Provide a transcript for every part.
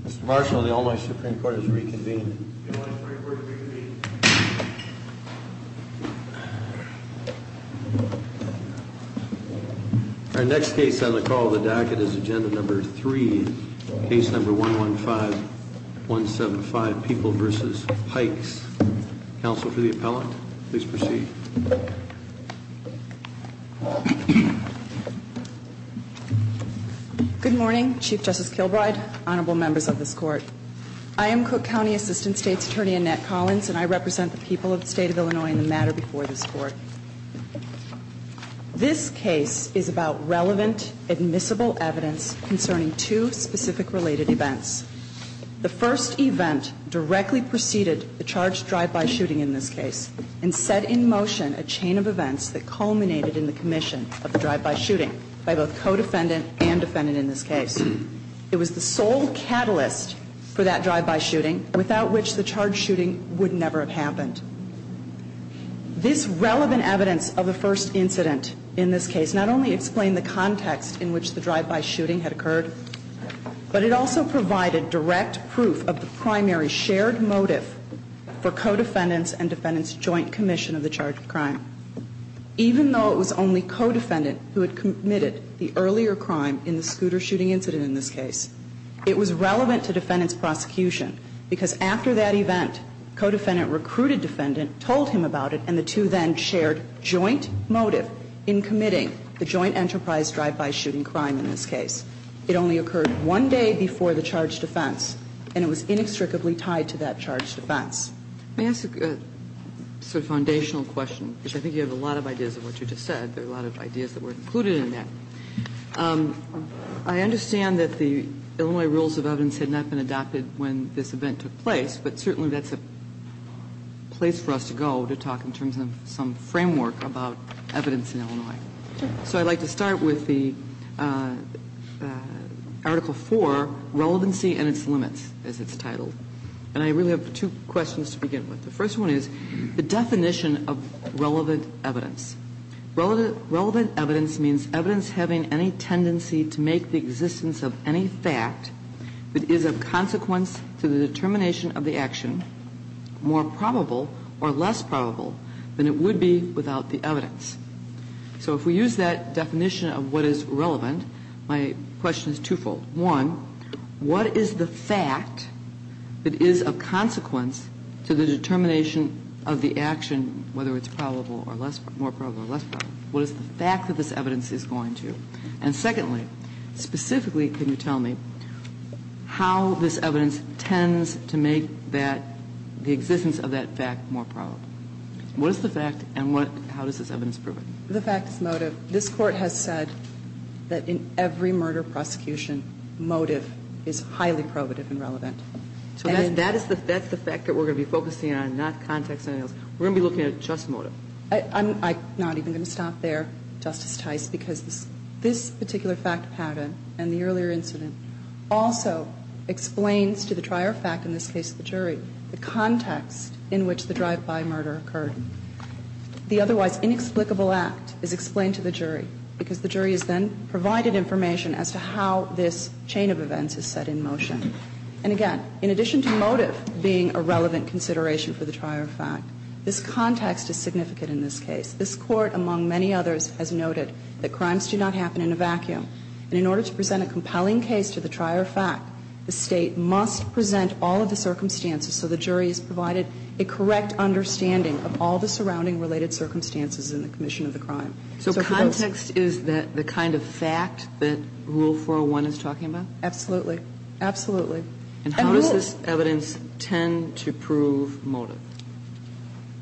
Mr. Marshall, the Almighty Supreme Court has reconvened. The Almighty Supreme Court has reconvened. Our next case on the call of the dacket is Agenda Number 3, Case Number 115-175, People v. Pikes. Counsel for the appellant, please proceed. Good morning, Chief Justice Kilbride, Honorable Members of this Court. I am Cook County Assistant State's Attorney Annette Collins, and I represent the people of the State of Illinois in the matter before this Court. This case is about relevant, admissible evidence concerning two specific related events. The first event directly preceded the charged drive-by shooting in this case and set in motion a chain of events that culminated in the commission of the drive-by shooting by both co-defendant and defendant in this case. It was the sole catalyst for that drive-by shooting, without which the charged shooting would never have happened. This relevant evidence of the first incident in this case not only explained the context in which the drive-by shooting had occurred, but it also provided direct proof of the primary shared motive for co-defendants and defendants' joint commission of the charged crime. Even though it was only co-defendant who had committed the earlier crime in the scooter shooting incident in this case, it was relevant to defendants' prosecution, because after that event, co-defendant recruited defendant, told him about it, and the two then shared joint motive in committing the joint enterprise drive-by shooting crime in this case. It only occurred one day before the charged defense, and it was inextricably tied to that charged defense. Let me ask a sort of foundational question, because I think you have a lot of ideas of what you just said. There are a lot of ideas that were included in that. I understand that the Illinois rules of evidence had not been adopted when this event took place, but certainly that's a place for us to go to talk in terms of some framework about evidence in Illinois. So I'd like to start with the Article IV, Relevancy and its Limits, as it's titled. And I really have two questions to begin with. The first one is the definition of relevant evidence. Relevant evidence means evidence having any tendency to make the existence of any fact that is of consequence to the determination of the action more probable or less probable than it would be without the evidence. So if we use that definition of what is relevant, my question is twofold. One, what is the fact that is of consequence to the determination of the action, whether it's probable or less probable, more probable or less probable? What is the fact that this evidence is going to? And secondly, specifically, can you tell me how this evidence tends to make that the existence of that fact more probable? What is the fact and how does this evidence prove it? The fact is motive. This Court has said that in every murder prosecution, motive is highly probative and relevant. So that's the fact that we're going to be focusing on, not context or anything else, we're going to be looking at just motive. I'm not even going to stop there, Justice Tice, because this particular fact pattern and the earlier incident also explains to the trier of fact, in this case the jury, the context in which the drive-by murder occurred. The otherwise inexplicable act is explained to the jury because the jury has then provided information as to how this chain of events is set in motion. And again, in addition to motive being a relevant consideration for the trier of fact, this context is significant in this case. This Court, among many others, has noted that crimes do not happen in a vacuum. And in order to present a compelling case to the trier of fact, the State must present all of the circumstances so the jury is provided a correct understanding of all the surrounding related circumstances in the commission of the crime. So context is the kind of fact that Rule 401 is talking about? Absolutely. Absolutely. And how does this evidence tend to prove motive?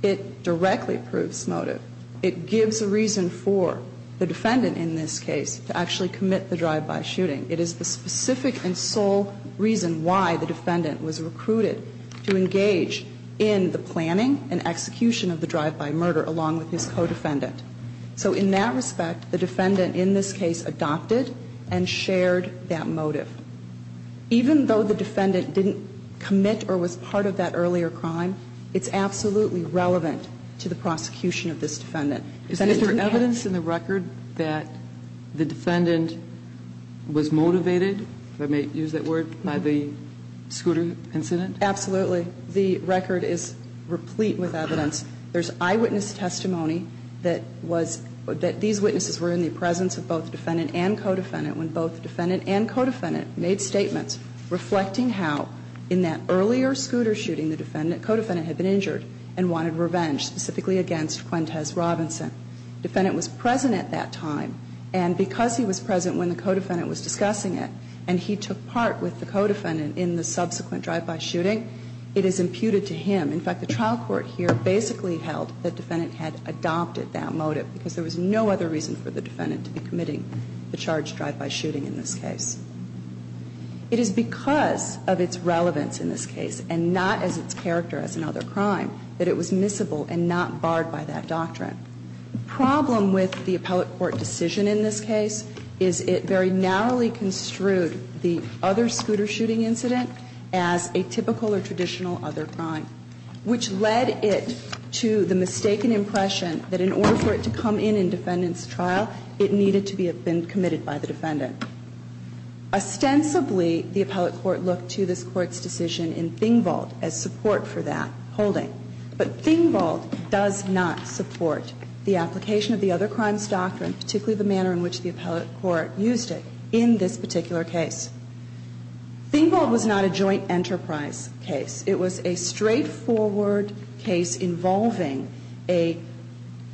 It directly proves motive. It gives a reason for the defendant in this case to actually commit the drive-by shooting. It is the specific and sole reason why the defendant was recruited to engage in the planning and execution of the drive-by murder along with his co-defendant. Even though the defendant didn't commit or was part of that earlier crime, it's absolutely relevant to the prosecution of this defendant. Is there evidence in the record that the defendant was motivated, if I may use that word, by the scooter incident? Absolutely. The record is replete with evidence. There's eyewitness testimony that was that these witnesses were in the presence of both defendant and co-defendant when both defendant and co-defendant made statements reflecting how in that earlier scooter shooting the defendant, co-defendant had been injured and wanted revenge specifically against Quintez Robinson. Defendant was present at that time and because he was present when the co-defendant was discussing it and he took part with the co-defendant in the subsequent drive-by shooting, it is imputed to him. In fact, the trial court here basically held that defendant had adopted that motive because there was no other reason for the defendant to be committing the charge drive-by shooting in this case. It is because of its relevance in this case and not as its character as another crime that it was missable and not barred by that doctrine. The problem with the appellate court decision in this case is it very narrowly construed the other scooter shooting incident as a typical or traditional other crime, which led it to the mistaken impression that in order for it to come in in defendant's trial, it needed to have been committed by the defendant. Ostensibly, the appellate court looked to this Court's decision in Thingvolt as support for that holding. But Thingvolt does not support the application of the other crimes doctrine, particularly the manner in which the appellate court used it in this particular case. Thingvolt was not a joint enterprise case. It was a straightforward case involving a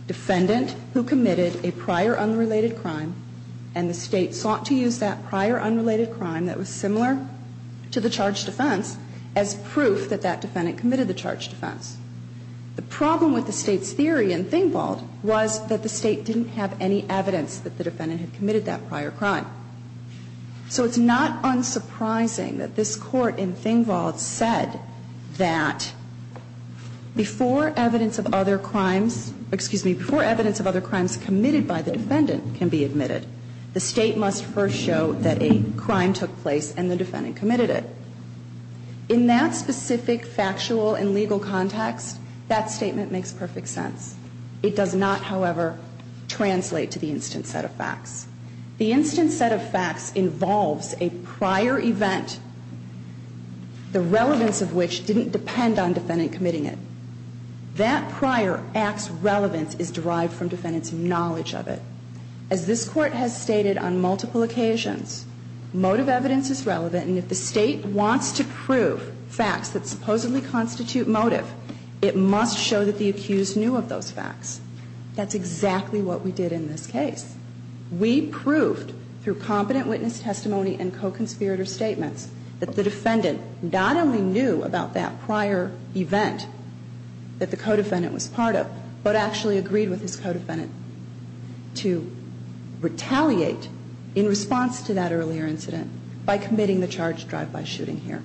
defendant who committed a prior unrelated crime, and the State sought to use that prior unrelated crime that was similar to the charge defense as proof that that defendant committed the charge defense. The problem with the State's theory in Thingvolt was that the State didn't have any evidence that the defendant had committed that prior crime. So it's not unsurprising that this Court in Thingvolt said that before evidence of other crimes, excuse me, before evidence of other crimes committed by the defendant can be admitted, the State must first show that a crime took place and the defendant committed it. In that specific factual and legal context, that statement makes perfect sense. It does not, however, translate to the instant set of facts. The instant set of facts involves a prior event, the relevance of which didn't depend on defendant committing it. That prior act's relevance is derived from defendant's knowledge of it. As this Court has stated on multiple occasions, motive evidence is relevant, and if the State wants to prove facts that supposedly constitute motive, it must show that the accused knew of those facts. That's exactly what we did in this case. We proved through competent witness testimony and co-conspirator statements that the defendant not only knew about that prior event that the co-defendant was part of, but actually agreed with his co-defendant to retaliate in response to that earlier incident by committing the charge of drive-by shooting here.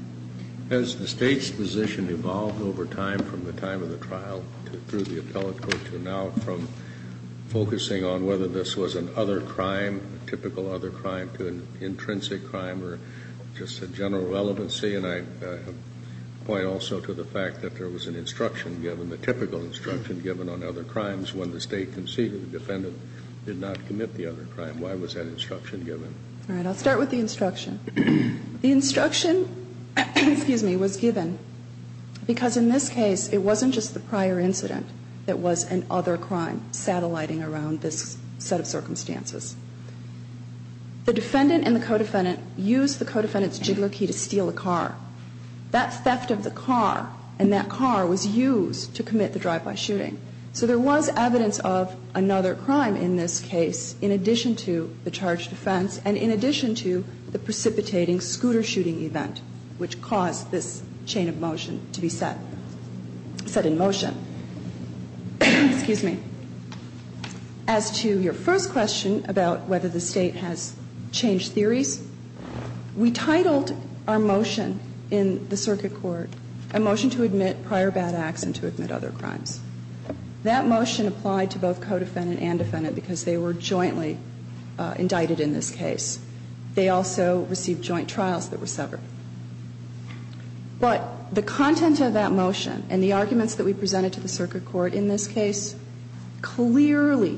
Has the State's position evolved over time from the time of the trial through the other crime, typical other crime to an intrinsic crime or just a general relevancy? And I point also to the fact that there was an instruction given, a typical instruction given on other crimes when the State conceded the defendant did not commit the other crime. Why was that instruction given? All right. I'll start with the instruction. The instruction, excuse me, was given because in this case it wasn't just the prior incident that was an other crime satelliting around this set of circumstances. The defendant and the co-defendant used the co-defendant's jiggler key to steal a car. That theft of the car and that car was used to commit the drive-by shooting. So there was evidence of another crime in this case in addition to the charge of defense and in addition to the precipitating scooter shooting event which caused this chain of motion to be set, set in motion. Excuse me. As to your first question about whether the State has changed theories, we titled our motion in the circuit court a motion to admit prior bad acts and to admit other crimes. That motion applied to both co-defendant and defendant because they were jointly indicted in this case. They also received joint trials that were severed. But the content of that motion and the arguments that we presented to the circuit court in this case clearly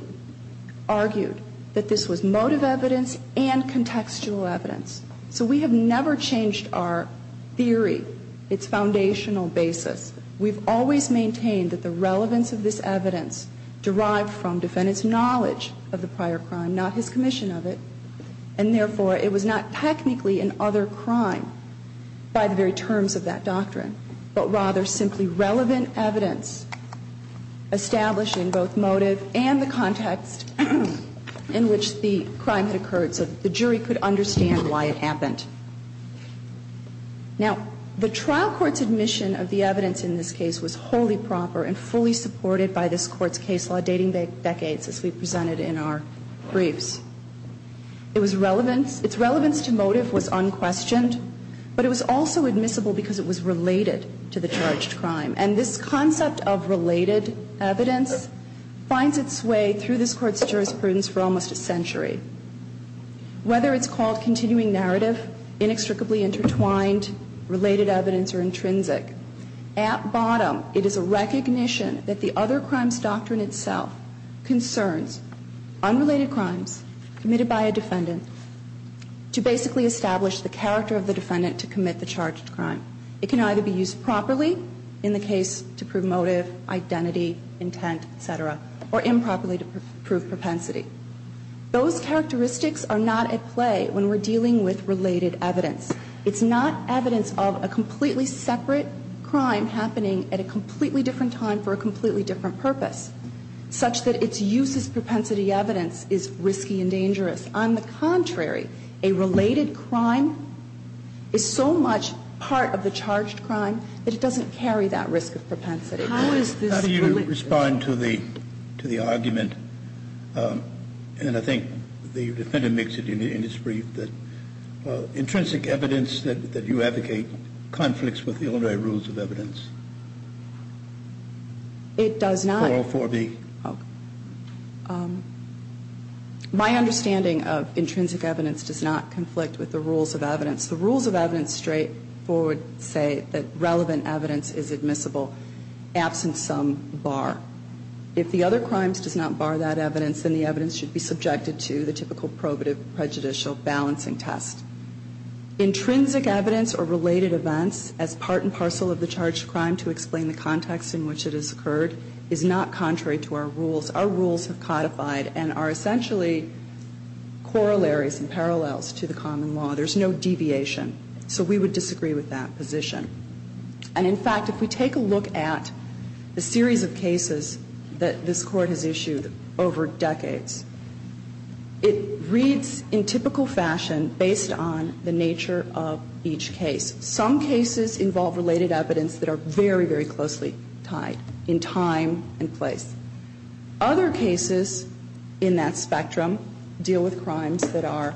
argued that this was motive evidence and contextual evidence. So we have never changed our theory, its foundational basis. We've always maintained that the relevance of this evidence derived from defendant's knowledge of the prior crime, not his commission of it. And therefore, it was not technically an other crime by the very terms of that doctrine, but rather simply relevant evidence establishing both motive and the context in which the crime had occurred so the jury could understand why it happened. Now, the trial court's admission of the evidence in this case was wholly proper and fully supported by this court's case law dating decades as we presented in our briefs. It was relevance, its relevance to motive was unquestioned, but it was also admissible because it was related to the charged crime. And this concept of related evidence finds its way through this court's jurisprudence for almost a century. Whether it's called continuing narrative, inextricably intertwined, related evidence or intrinsic, at bottom it is a recognition that the other crimes doctrine itself concerns unrelated crimes committed by a defendant to basically establish the character of the defendant to commit the charged crime. It can either be used properly in the case to prove motive, identity, intent, etc., or improperly to prove propensity. Those characteristics are not at play when we're dealing with related evidence. It's not evidence of a completely separate crime happening at a completely different time for a completely different purpose, such that its use as propensity evidence is risky and dangerous. On the contrary, a related crime is so much part of the charged crime that it doesn't carry that risk of propensity. How is this related? Kennedy, how do you respond to the argument, and I think the Defendant makes it in his brief, that intrinsic evidence that you advocate conflicts with the ordinary rules of evidence? It does not. 404B. My understanding of intrinsic evidence does not conflict with the rules of evidence. The rules of evidence straightforward say that relevant evidence is admissible absent some bar. If the other crimes does not bar that evidence, then the evidence should be subjected to the typical probative prejudicial balancing test. Intrinsic evidence or related events as part and parcel of the charged crime to explain the context in which it has occurred is not contrary to our rules. Our rules have codified and are essentially corollaries and parallels to the common law. There's no deviation. So we would disagree with that position. And, in fact, if we take a look at the series of cases that this Court has issued over decades, it reads in typical fashion based on the nature of each case. Some cases involve related evidence that are very, very closely tied in time and place. Other cases in that spectrum deal with crimes that are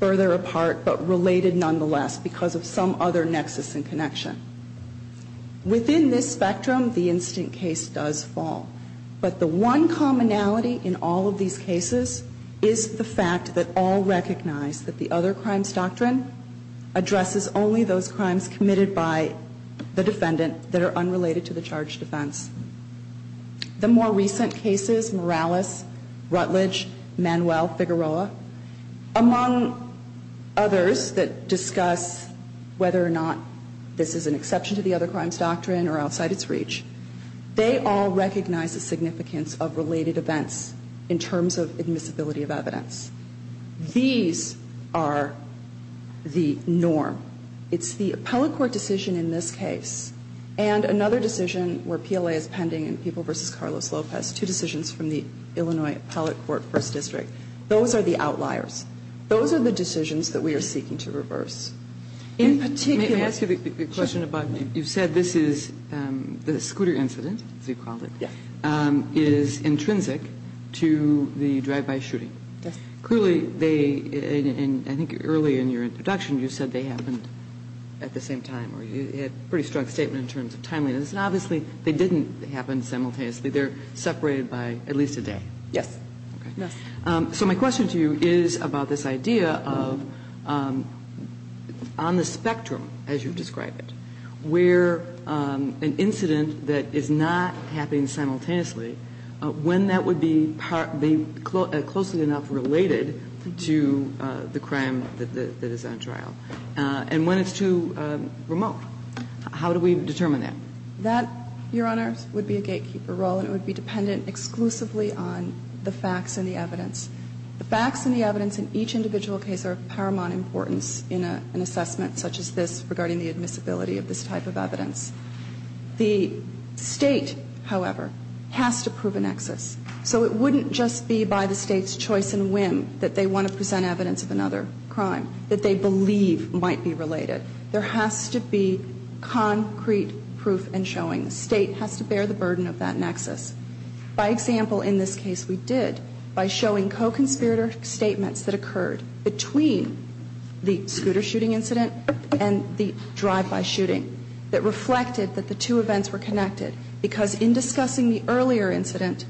further apart but related nonetheless because of some other nexus and connection. Within this spectrum, the instant case does fall. But the one commonality in all of these cases is the fact that all recognize that the other crimes doctrine addresses only those crimes committed by the defendant that are unrelated to the charged offense. The more recent cases, Morales, Rutledge, Manuel, Figueroa, among others that discuss whether or not this is an exception to the other crimes doctrine or outside its reach, they all recognize the significance of related events in terms of admissibility of evidence. These are the norm. It's the appellate court decision in this case and another decision where PLA is pending in People v. Carlos Lopez, two decisions from the Illinois Appellate Court First District. Those are the outliers. Those are the decisions that we are seeking to reverse. In particular ---- The scooter incident, as you called it, is intrinsic to the drive-by shooting. Clearly they, I think early in your introduction, you said they happened at the same time or you had a pretty strong statement in terms of timeliness. And obviously, they didn't happen simultaneously. They're separated by at least a day. Yes. So my question to you is about this idea of on the spectrum as you describe it, where an incident that is not happening simultaneously, when that would be closely enough related to the crime that is on trial, and when it's too remote. How do we determine that? That, Your Honors, would be a gatekeeper role and it would be dependent exclusively on the facts and the evidence. The facts and the evidence in each individual case are of paramount importance in an assessment such as this regarding the admissibility of this type of evidence. The State, however, has to prove a nexus. So it wouldn't just be by the State's choice and whim that they want to present evidence of another crime that they believe might be related. There has to be concrete proof and showing. The State has to bear the burden of that nexus. By example, in this case we did by showing co-conspirator statements that occurred between the scooter shooting incident and the drive-by shooting that reflected that the two events were connected. Because in discussing the earlier incident,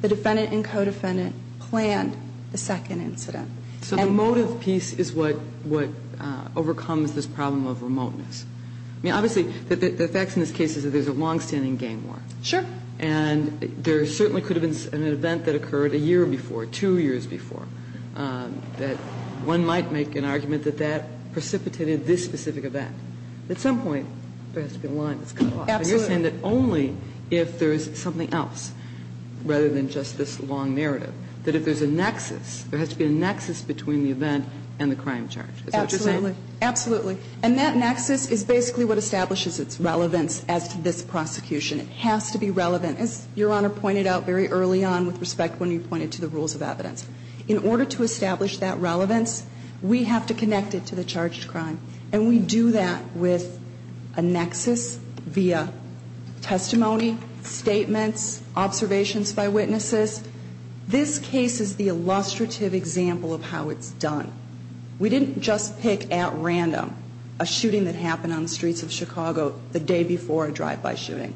the defendant and co-defendant planned the second incident. So the motive piece is what overcomes this problem of remoteness. I mean, obviously the facts in this case is that there's a longstanding gang war. Sure. And there certainly could have been an event that occurred a year before, two years before, that one might make an argument that that precipitated this specific event. At some point there has to be a line that's cut off. Absolutely. And you're saying that only if there is something else rather than just this long narrative, that if there's a nexus, there has to be a nexus between the event and the crime charge. Is that what you're saying? Absolutely. And that nexus is basically what establishes its relevance as to this prosecution. It has to be relevant. As Your Honor pointed out very early on with respect when you pointed to the rules of evidence. In order to establish that relevance, we have to connect it to the charged crime. And we do that with a nexus via testimony, statements, observations by witnesses. This case is the illustrative example of how it's done. We didn't just pick at random a shooting that happened on the streets of Chicago the day before a drive-by shooting.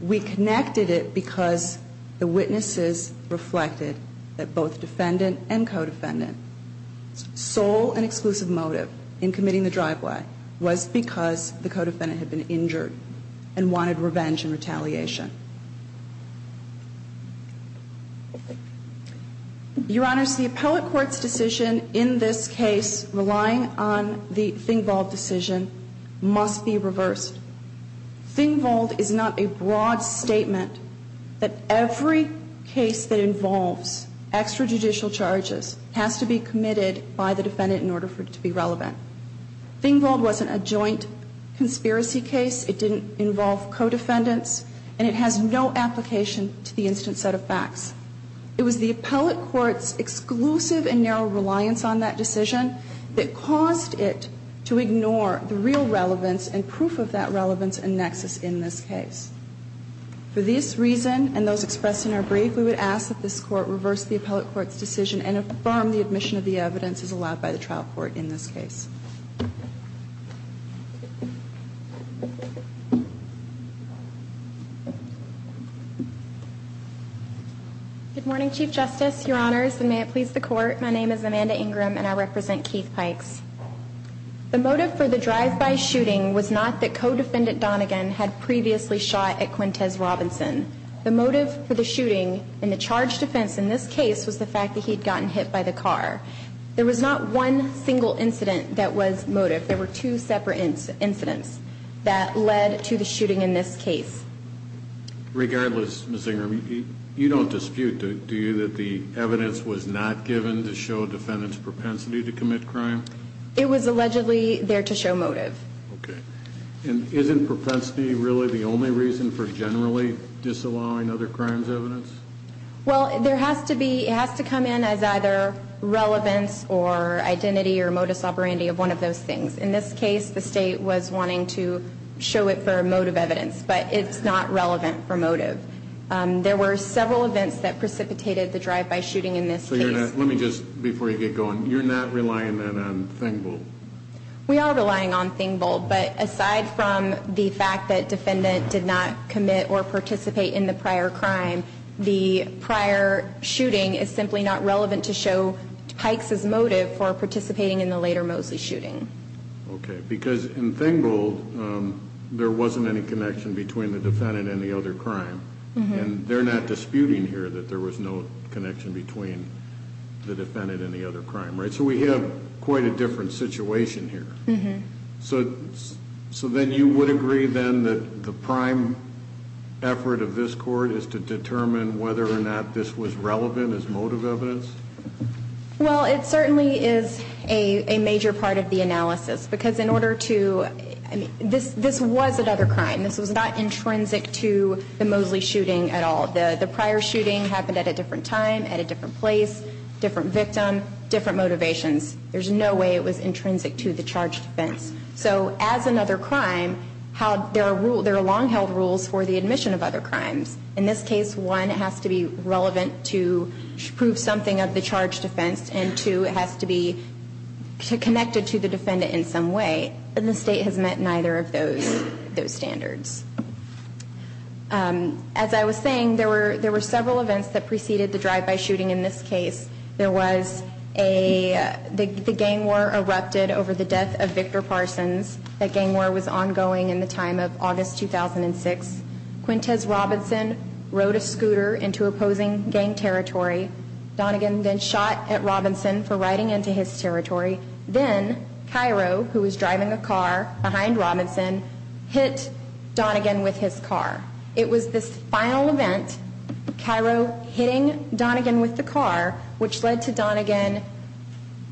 We connected it because the witnesses reflected that both defendant and co-defendant sole and exclusive motive in committing the drive-by was because the co-defendant had been injured and wanted revenge and retaliation. Your Honors, the appellate court's decision in this case relying on the Thingvold decision must be reversed. Thingvold is not a broad statement that every case that involves extrajudicial charges has to be committed by the defendant in order for it to be relevant. Thingvold wasn't a joint conspiracy case. It didn't involve co-defendants. And it has no application to the instant set of facts. It was the appellate court's exclusive and narrow reliance on that decision that caused it to ignore the real relevance and proof of that relevance and nexus in this case. For this reason and those expressed in our brief, we would ask that this court reverse the appellate court's decision and affirm the admission of the evidence as allowed by the trial court in this case. Good morning, Chief Justice, Your Honors, and may it please the Court. My name is Amanda Ingram, and I represent Keith Pikes. The motive for the drive-by shooting was not that co-defendant Donegan had previously shot at Quintez Robinson. The motive for the shooting in the charge defense in this case was the fact that he'd gotten hit by the car. There was not one single incident that was motive. There were two separate incidents that led to the shooting in this case. Regardless, Ms. Ingram, you don't dispute, do you, that the evidence was not given to show a defendant's propensity to commit crime? It was allegedly there to show motive. Okay. And isn't propensity really the only reason for generally disallowing other crimes evidence? Well, there has to be, it has to come in as either relevance or identity or modus operandi of one of those things. In this case, the state was wanting to show it for motive evidence, but it's not relevant for motive. There were several events that precipitated the drive-by shooting in this case. Let me just, before you get going, you're not relying then on Thingol? We are relying on Thingol, but aside from the fact that defendant did not commit or participate in the prior crime, the prior shooting is simply not relevant to show Pike's motive for participating in the later Mosley shooting. Okay. Because in Thingol, there wasn't any connection between the defendant and the other crime. And they're not disputing here that there was no connection between the defendant and the other crime, right? So we have quite a different situation here. So then you would agree then that the prime effort of this court is to determine whether or not this was relevant as motive evidence? Well, it certainly is a major part of the analysis because in order to, this was another crime. This was not intrinsic to the Mosley shooting at all. The prior shooting happened at a different time, at a different place, different victim, different motivations. There's no way it was intrinsic to the charge defense. So as another crime, there are long-held rules for the admission of other crimes. In this case, one, it has to be relevant to prove something of the charge defense, and two, it has to be connected to the defendant in some way. And the State has met neither of those standards. As I was saying, there were several events that preceded the drive-by shooting in this case. There was a, the gang war erupted over the death of Victor Parsons. That gang war was ongoing in the time of August 2006. Quintez Robinson rode a scooter into opposing gang territory. Donegan then shot at Robinson for riding into his territory. Then Cairo, who was driving a car behind Robinson, hit Donegan with his car. It was this final event, Cairo hitting Donegan with the car, which led to Donegan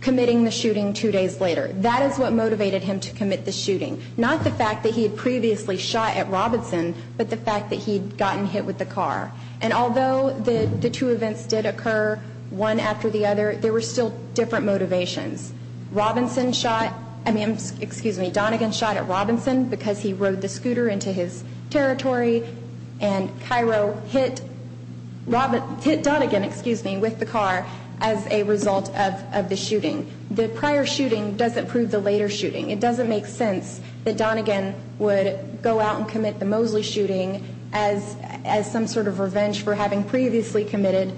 committing the shooting two days later. That is what motivated him to commit the shooting. Not the fact that he had previously shot at Robinson, but the fact that he had gotten hit with the car. And although the two events did occur one after the other, there were still different motivations. Robinson shot, I mean, excuse me, Donegan shot at Robinson because he rode the scooter into his territory. And Cairo hit Donegan, excuse me, with the car as a result of the shooting. The prior shooting doesn't prove the later shooting. It doesn't make sense that Donegan would go out and commit the Mosley shooting as some sort of revenge for having previously committed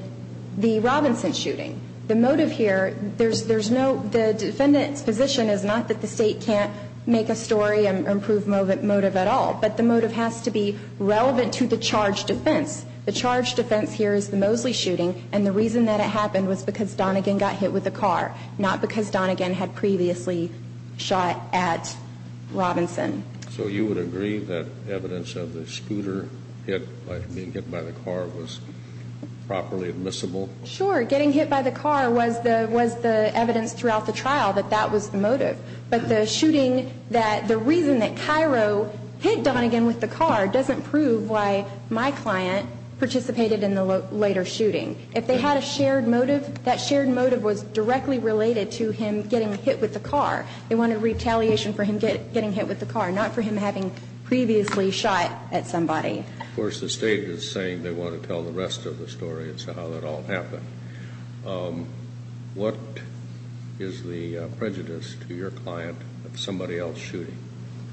the Robinson shooting. The motive here, there's no, the defendant's position is not that the State can't make a story and prove motive at all. But the motive has to be relevant to the charge defense. The charge defense here is the Mosley shooting, and the reason that it happened was because Donegan got hit with the car, not because Donegan had previously shot at Robinson. So you would agree that evidence of the scooter being hit by the car was properly admissible? Sure. Getting hit by the car was the evidence throughout the trial that that was the motive. But the shooting, the reason that Cairo hit Donegan with the car doesn't prove why my client participated in the later shooting. If they had a shared motive, that shared motive was directly related to him getting hit with the car. They wanted retaliation for him getting hit with the car, not for him having previously shot at somebody. Of course, the State is saying they want to tell the rest of the story. It's how it all happened. What is the prejudice to your client of somebody else shooting?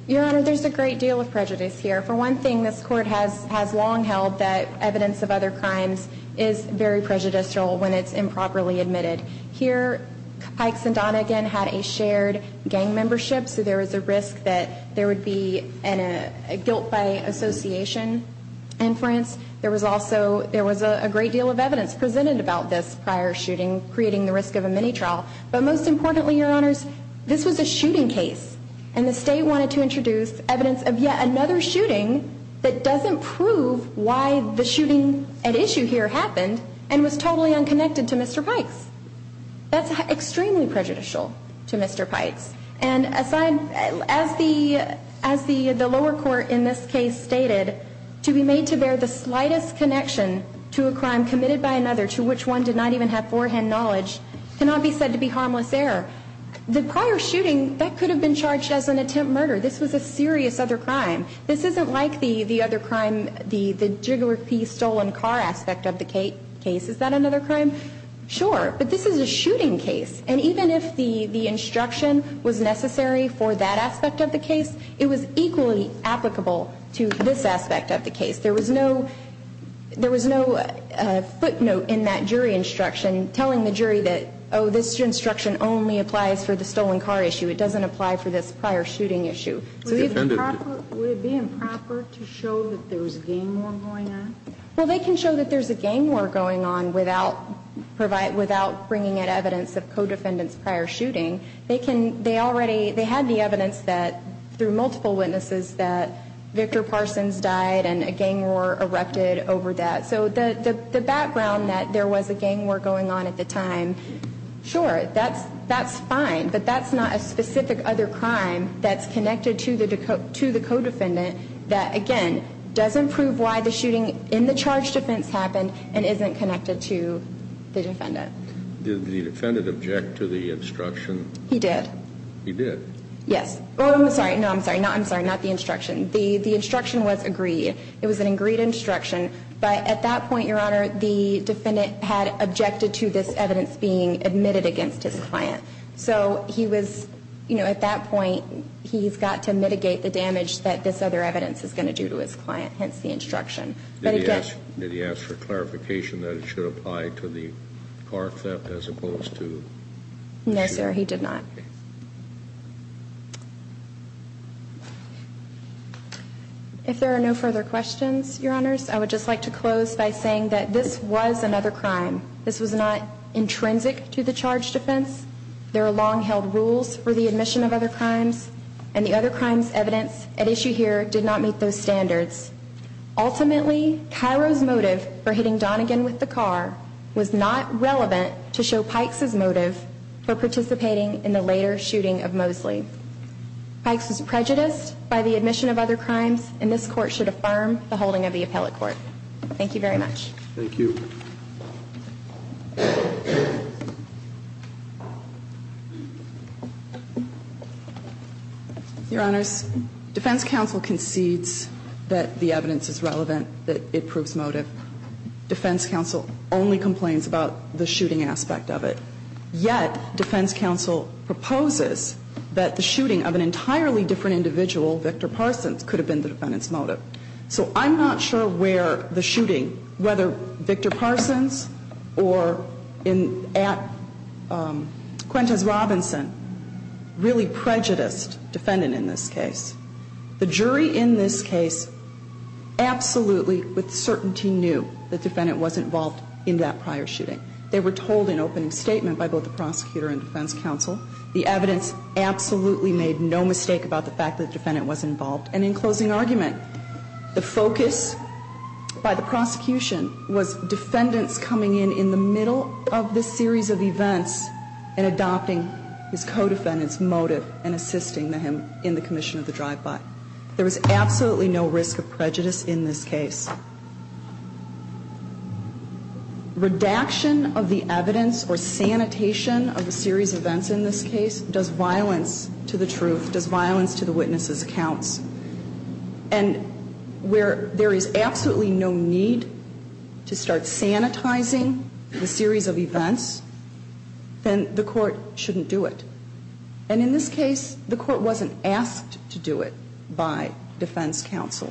Your Honor, there's a great deal of prejudice here. For one thing, this Court has long held that evidence of other crimes is very prejudicial when it's improperly admitted. Here, Ikes and Donegan had a shared gang membership, so there was a risk that there would be a guilt by association inference. There was also a great deal of evidence presented about this prior shooting, creating the risk of a mini-trial. But most importantly, Your Honors, this was a shooting case, and the State wanted to introduce evidence of yet another shooting that doesn't prove why the shooting at issue here happened and was totally unconnected to Mr. Pikes. That's extremely prejudicial to Mr. Pikes. And as the lower court in this case stated, to be made to bear the slightest connection to a crime committed by another to which one did not even have forehand knowledge cannot be said to be harmless error. The prior shooting, that could have been charged as an attempt murder. This was a serious other crime. This isn't like the other crime, the Jiggler P. stolen car aspect of the case. Is that another crime? Sure, but this is a shooting case. And even if the instruction was necessary for that aspect of the case, it was equally applicable to this aspect of the case. There was no footnote in that jury instruction telling the jury that, oh, this instruction only applies for the stolen car issue. It doesn't apply for this prior shooting issue. Would it be improper to show that there was a gang war going on? Well, they can show that there's a gang war going on without bringing in evidence of co-defendants' prior shooting. They had the evidence that, through multiple witnesses, that Victor Parsons died and a gang war erupted over that. So the background that there was a gang war going on at the time, sure, that's fine. But that's not a specific other crime that's connected to the co-defendant that, again, doesn't prove why the shooting in the charge defense happened and isn't connected to the defendant. Did the defendant object to the instruction? He did. He did? Yes. Oh, I'm sorry. No, I'm sorry. No, I'm sorry. Not the instruction. The instruction was agreed. It was an agreed instruction. But at that point, Your Honor, the defendant had objected to this evidence being admitted against his client. So he was, you know, at that point, he's got to mitigate the damage that this other evidence is going to do to his client, hence the instruction. Did he ask for clarification that it should apply to the car theft as opposed to shooting? No, sir, he did not. Okay. If there are no further questions, Your Honors, I would just like to close by saying that this was another crime. This was not intrinsic to the charge defense. There are long-held rules for the admission of other crimes. And the other crimes' evidence at issue here did not meet those standards. Ultimately, Cairo's motive for hitting Donegan with the car was not relevant to show Pikes' motive for participating in the later shooting of Mosley. Pikes was prejudiced by the admission of other crimes, and this Court should affirm the holding of the appellate court. Thank you very much. Thank you. Your Honors, defense counsel concedes that the evidence is relevant, that it proves motive. Defense counsel only complains about the shooting aspect of it. Yet defense counsel proposes that the shooting of an entirely different individual, Victor Parsons, could have been the defendant's motive. So I'm not sure where the shooting, whether Victor Parsons or at Quintus Robinson, really prejudiced defendant in this case. The jury in this case absolutely with certainty knew the defendant was involved in that prior shooting. They were told in opening statement by both the prosecutor and defense counsel. The evidence absolutely made no mistake about the fact that the defendant was involved. And in closing argument, the focus by the prosecution was defendants coming in in the middle of this series of events and adopting his co-defendant's motive and assisting him in the commission of the drive-by. There was absolutely no risk of prejudice in this case. Redaction of the evidence or sanitation of a series of events in this case does violence to the truth. And in this case, the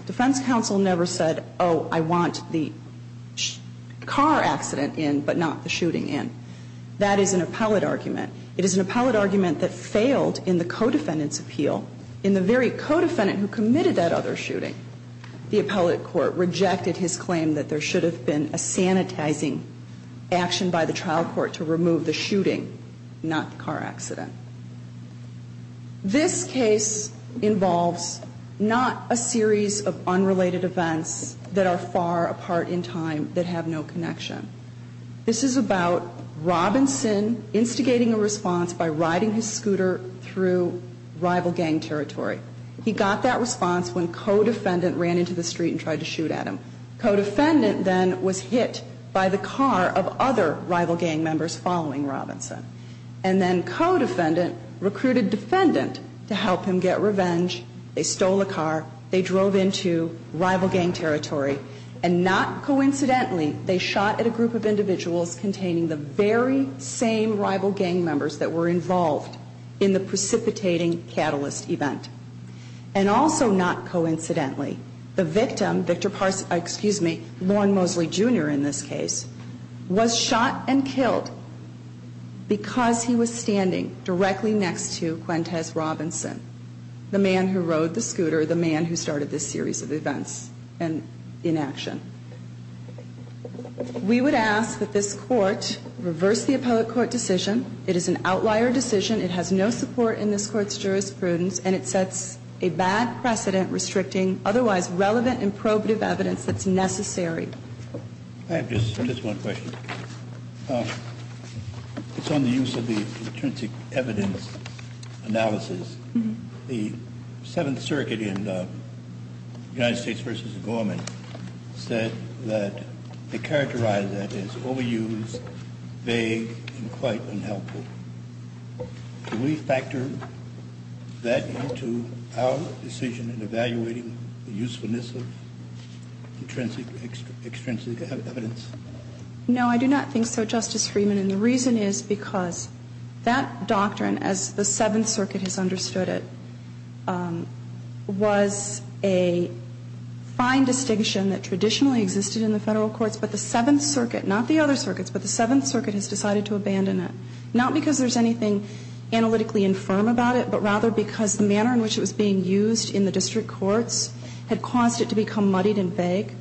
defense counsel never said, oh, I want the car accident in, but not the shooting in. That is an appellate argument. It is an appellate argument that failed in the co-defendant's appeal in the very case. The co-defendant who committed that other shooting, the appellate court rejected his claim that there should have been a sanitizing action by the trial court to remove the shooting, not the car accident. This case involves not a series of unrelated events that are far apart in time that have no connection. This is about Robinson instigating a response by riding his scooter through rival gang territory. He got that response when co-defendant ran into the street and tried to shoot at him. Co-defendant then was hit by the car of other rival gang members following Robinson. And then co-defendant recruited defendant to help him get revenge. They stole a car. They drove into rival gang territory. And not coincidentally, they shot at a group of individuals containing the very same rival gang members that were involved in the precipitating catalyst event. And also not coincidentally, the victim, Victor Parsons, excuse me, Lorne Mosley Jr. in this case, was shot and killed because he was standing directly next to Quintez Robinson, the man who rode the scooter, the man who started this series of events. And in action. We would ask that this Court reverse the appellate court decision. It is an outlier decision. It has no support in this Court's jurisprudence. And it sets a bad precedent restricting otherwise relevant and probative evidence that's necessary. I have just one question. It's on the use of the intrinsic evidence analysis. The Seventh Circuit in United States v. Gorman said that they characterized that as overused, vague, and quite unhelpful. Do we factor that into our decision in evaluating the usefulness of intrinsic extrinsic evidence? No, I do not think so, Justice Freeman. And the reason is because that doctrine, as the Seventh Circuit has understood it, was a fine distinction that traditionally existed in the Federal courts. But the Seventh Circuit, not the other circuits, but the Seventh Circuit has decided to abandon it. Not because there's anything analytically infirm about it, but rather because the manner in which it was being used in the district courts had caused it to become muddied and vague.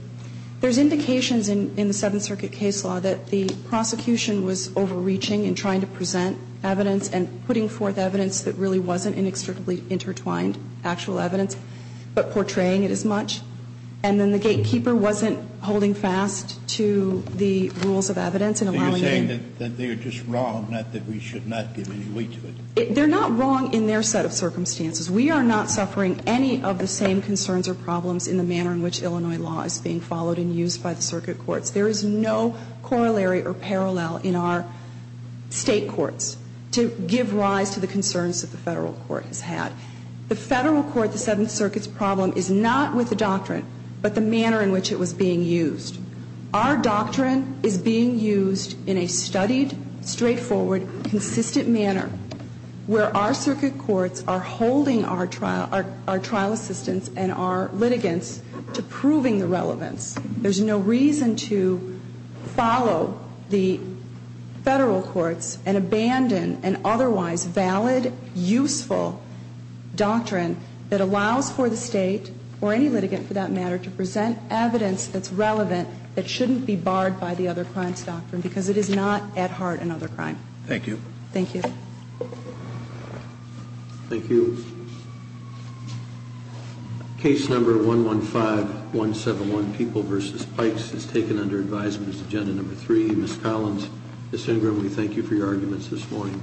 There's indications in the Seventh Circuit case law that the prosecution was overreaching in trying to present evidence and putting forth evidence that really wasn't inextricably intertwined actual evidence, but portraying it as much. And then the gatekeeper wasn't holding fast to the rules of evidence and allowing it in. So you're saying that they're just wrong, not that we should not give any weight to it? They're not wrong in their set of circumstances. We are not suffering any of the same concerns or problems in the manner in which it was being followed and used by the circuit courts. There is no corollary or parallel in our State courts to give rise to the concerns that the Federal court has had. The Federal court, the Seventh Circuit's problem is not with the doctrine, but the manner in which it was being used. Our doctrine is being used in a studied, straightforward, consistent manner where our circuit courts are holding our trial assistants and our litigants to proving the relevance. There's no reason to follow the Federal courts and abandon an otherwise valid, useful doctrine that allows for the State, or any litigant for that matter, to present evidence that's relevant that shouldn't be barred by the other crimes doctrine because it is not, at heart, another crime. Thank you. Thank you. Thank you. Case number 115171, People v. Pikes, is taken under advisement. It's agenda number three. Ms. Collins, Ms. Ingram, we thank you for your arguments this morning.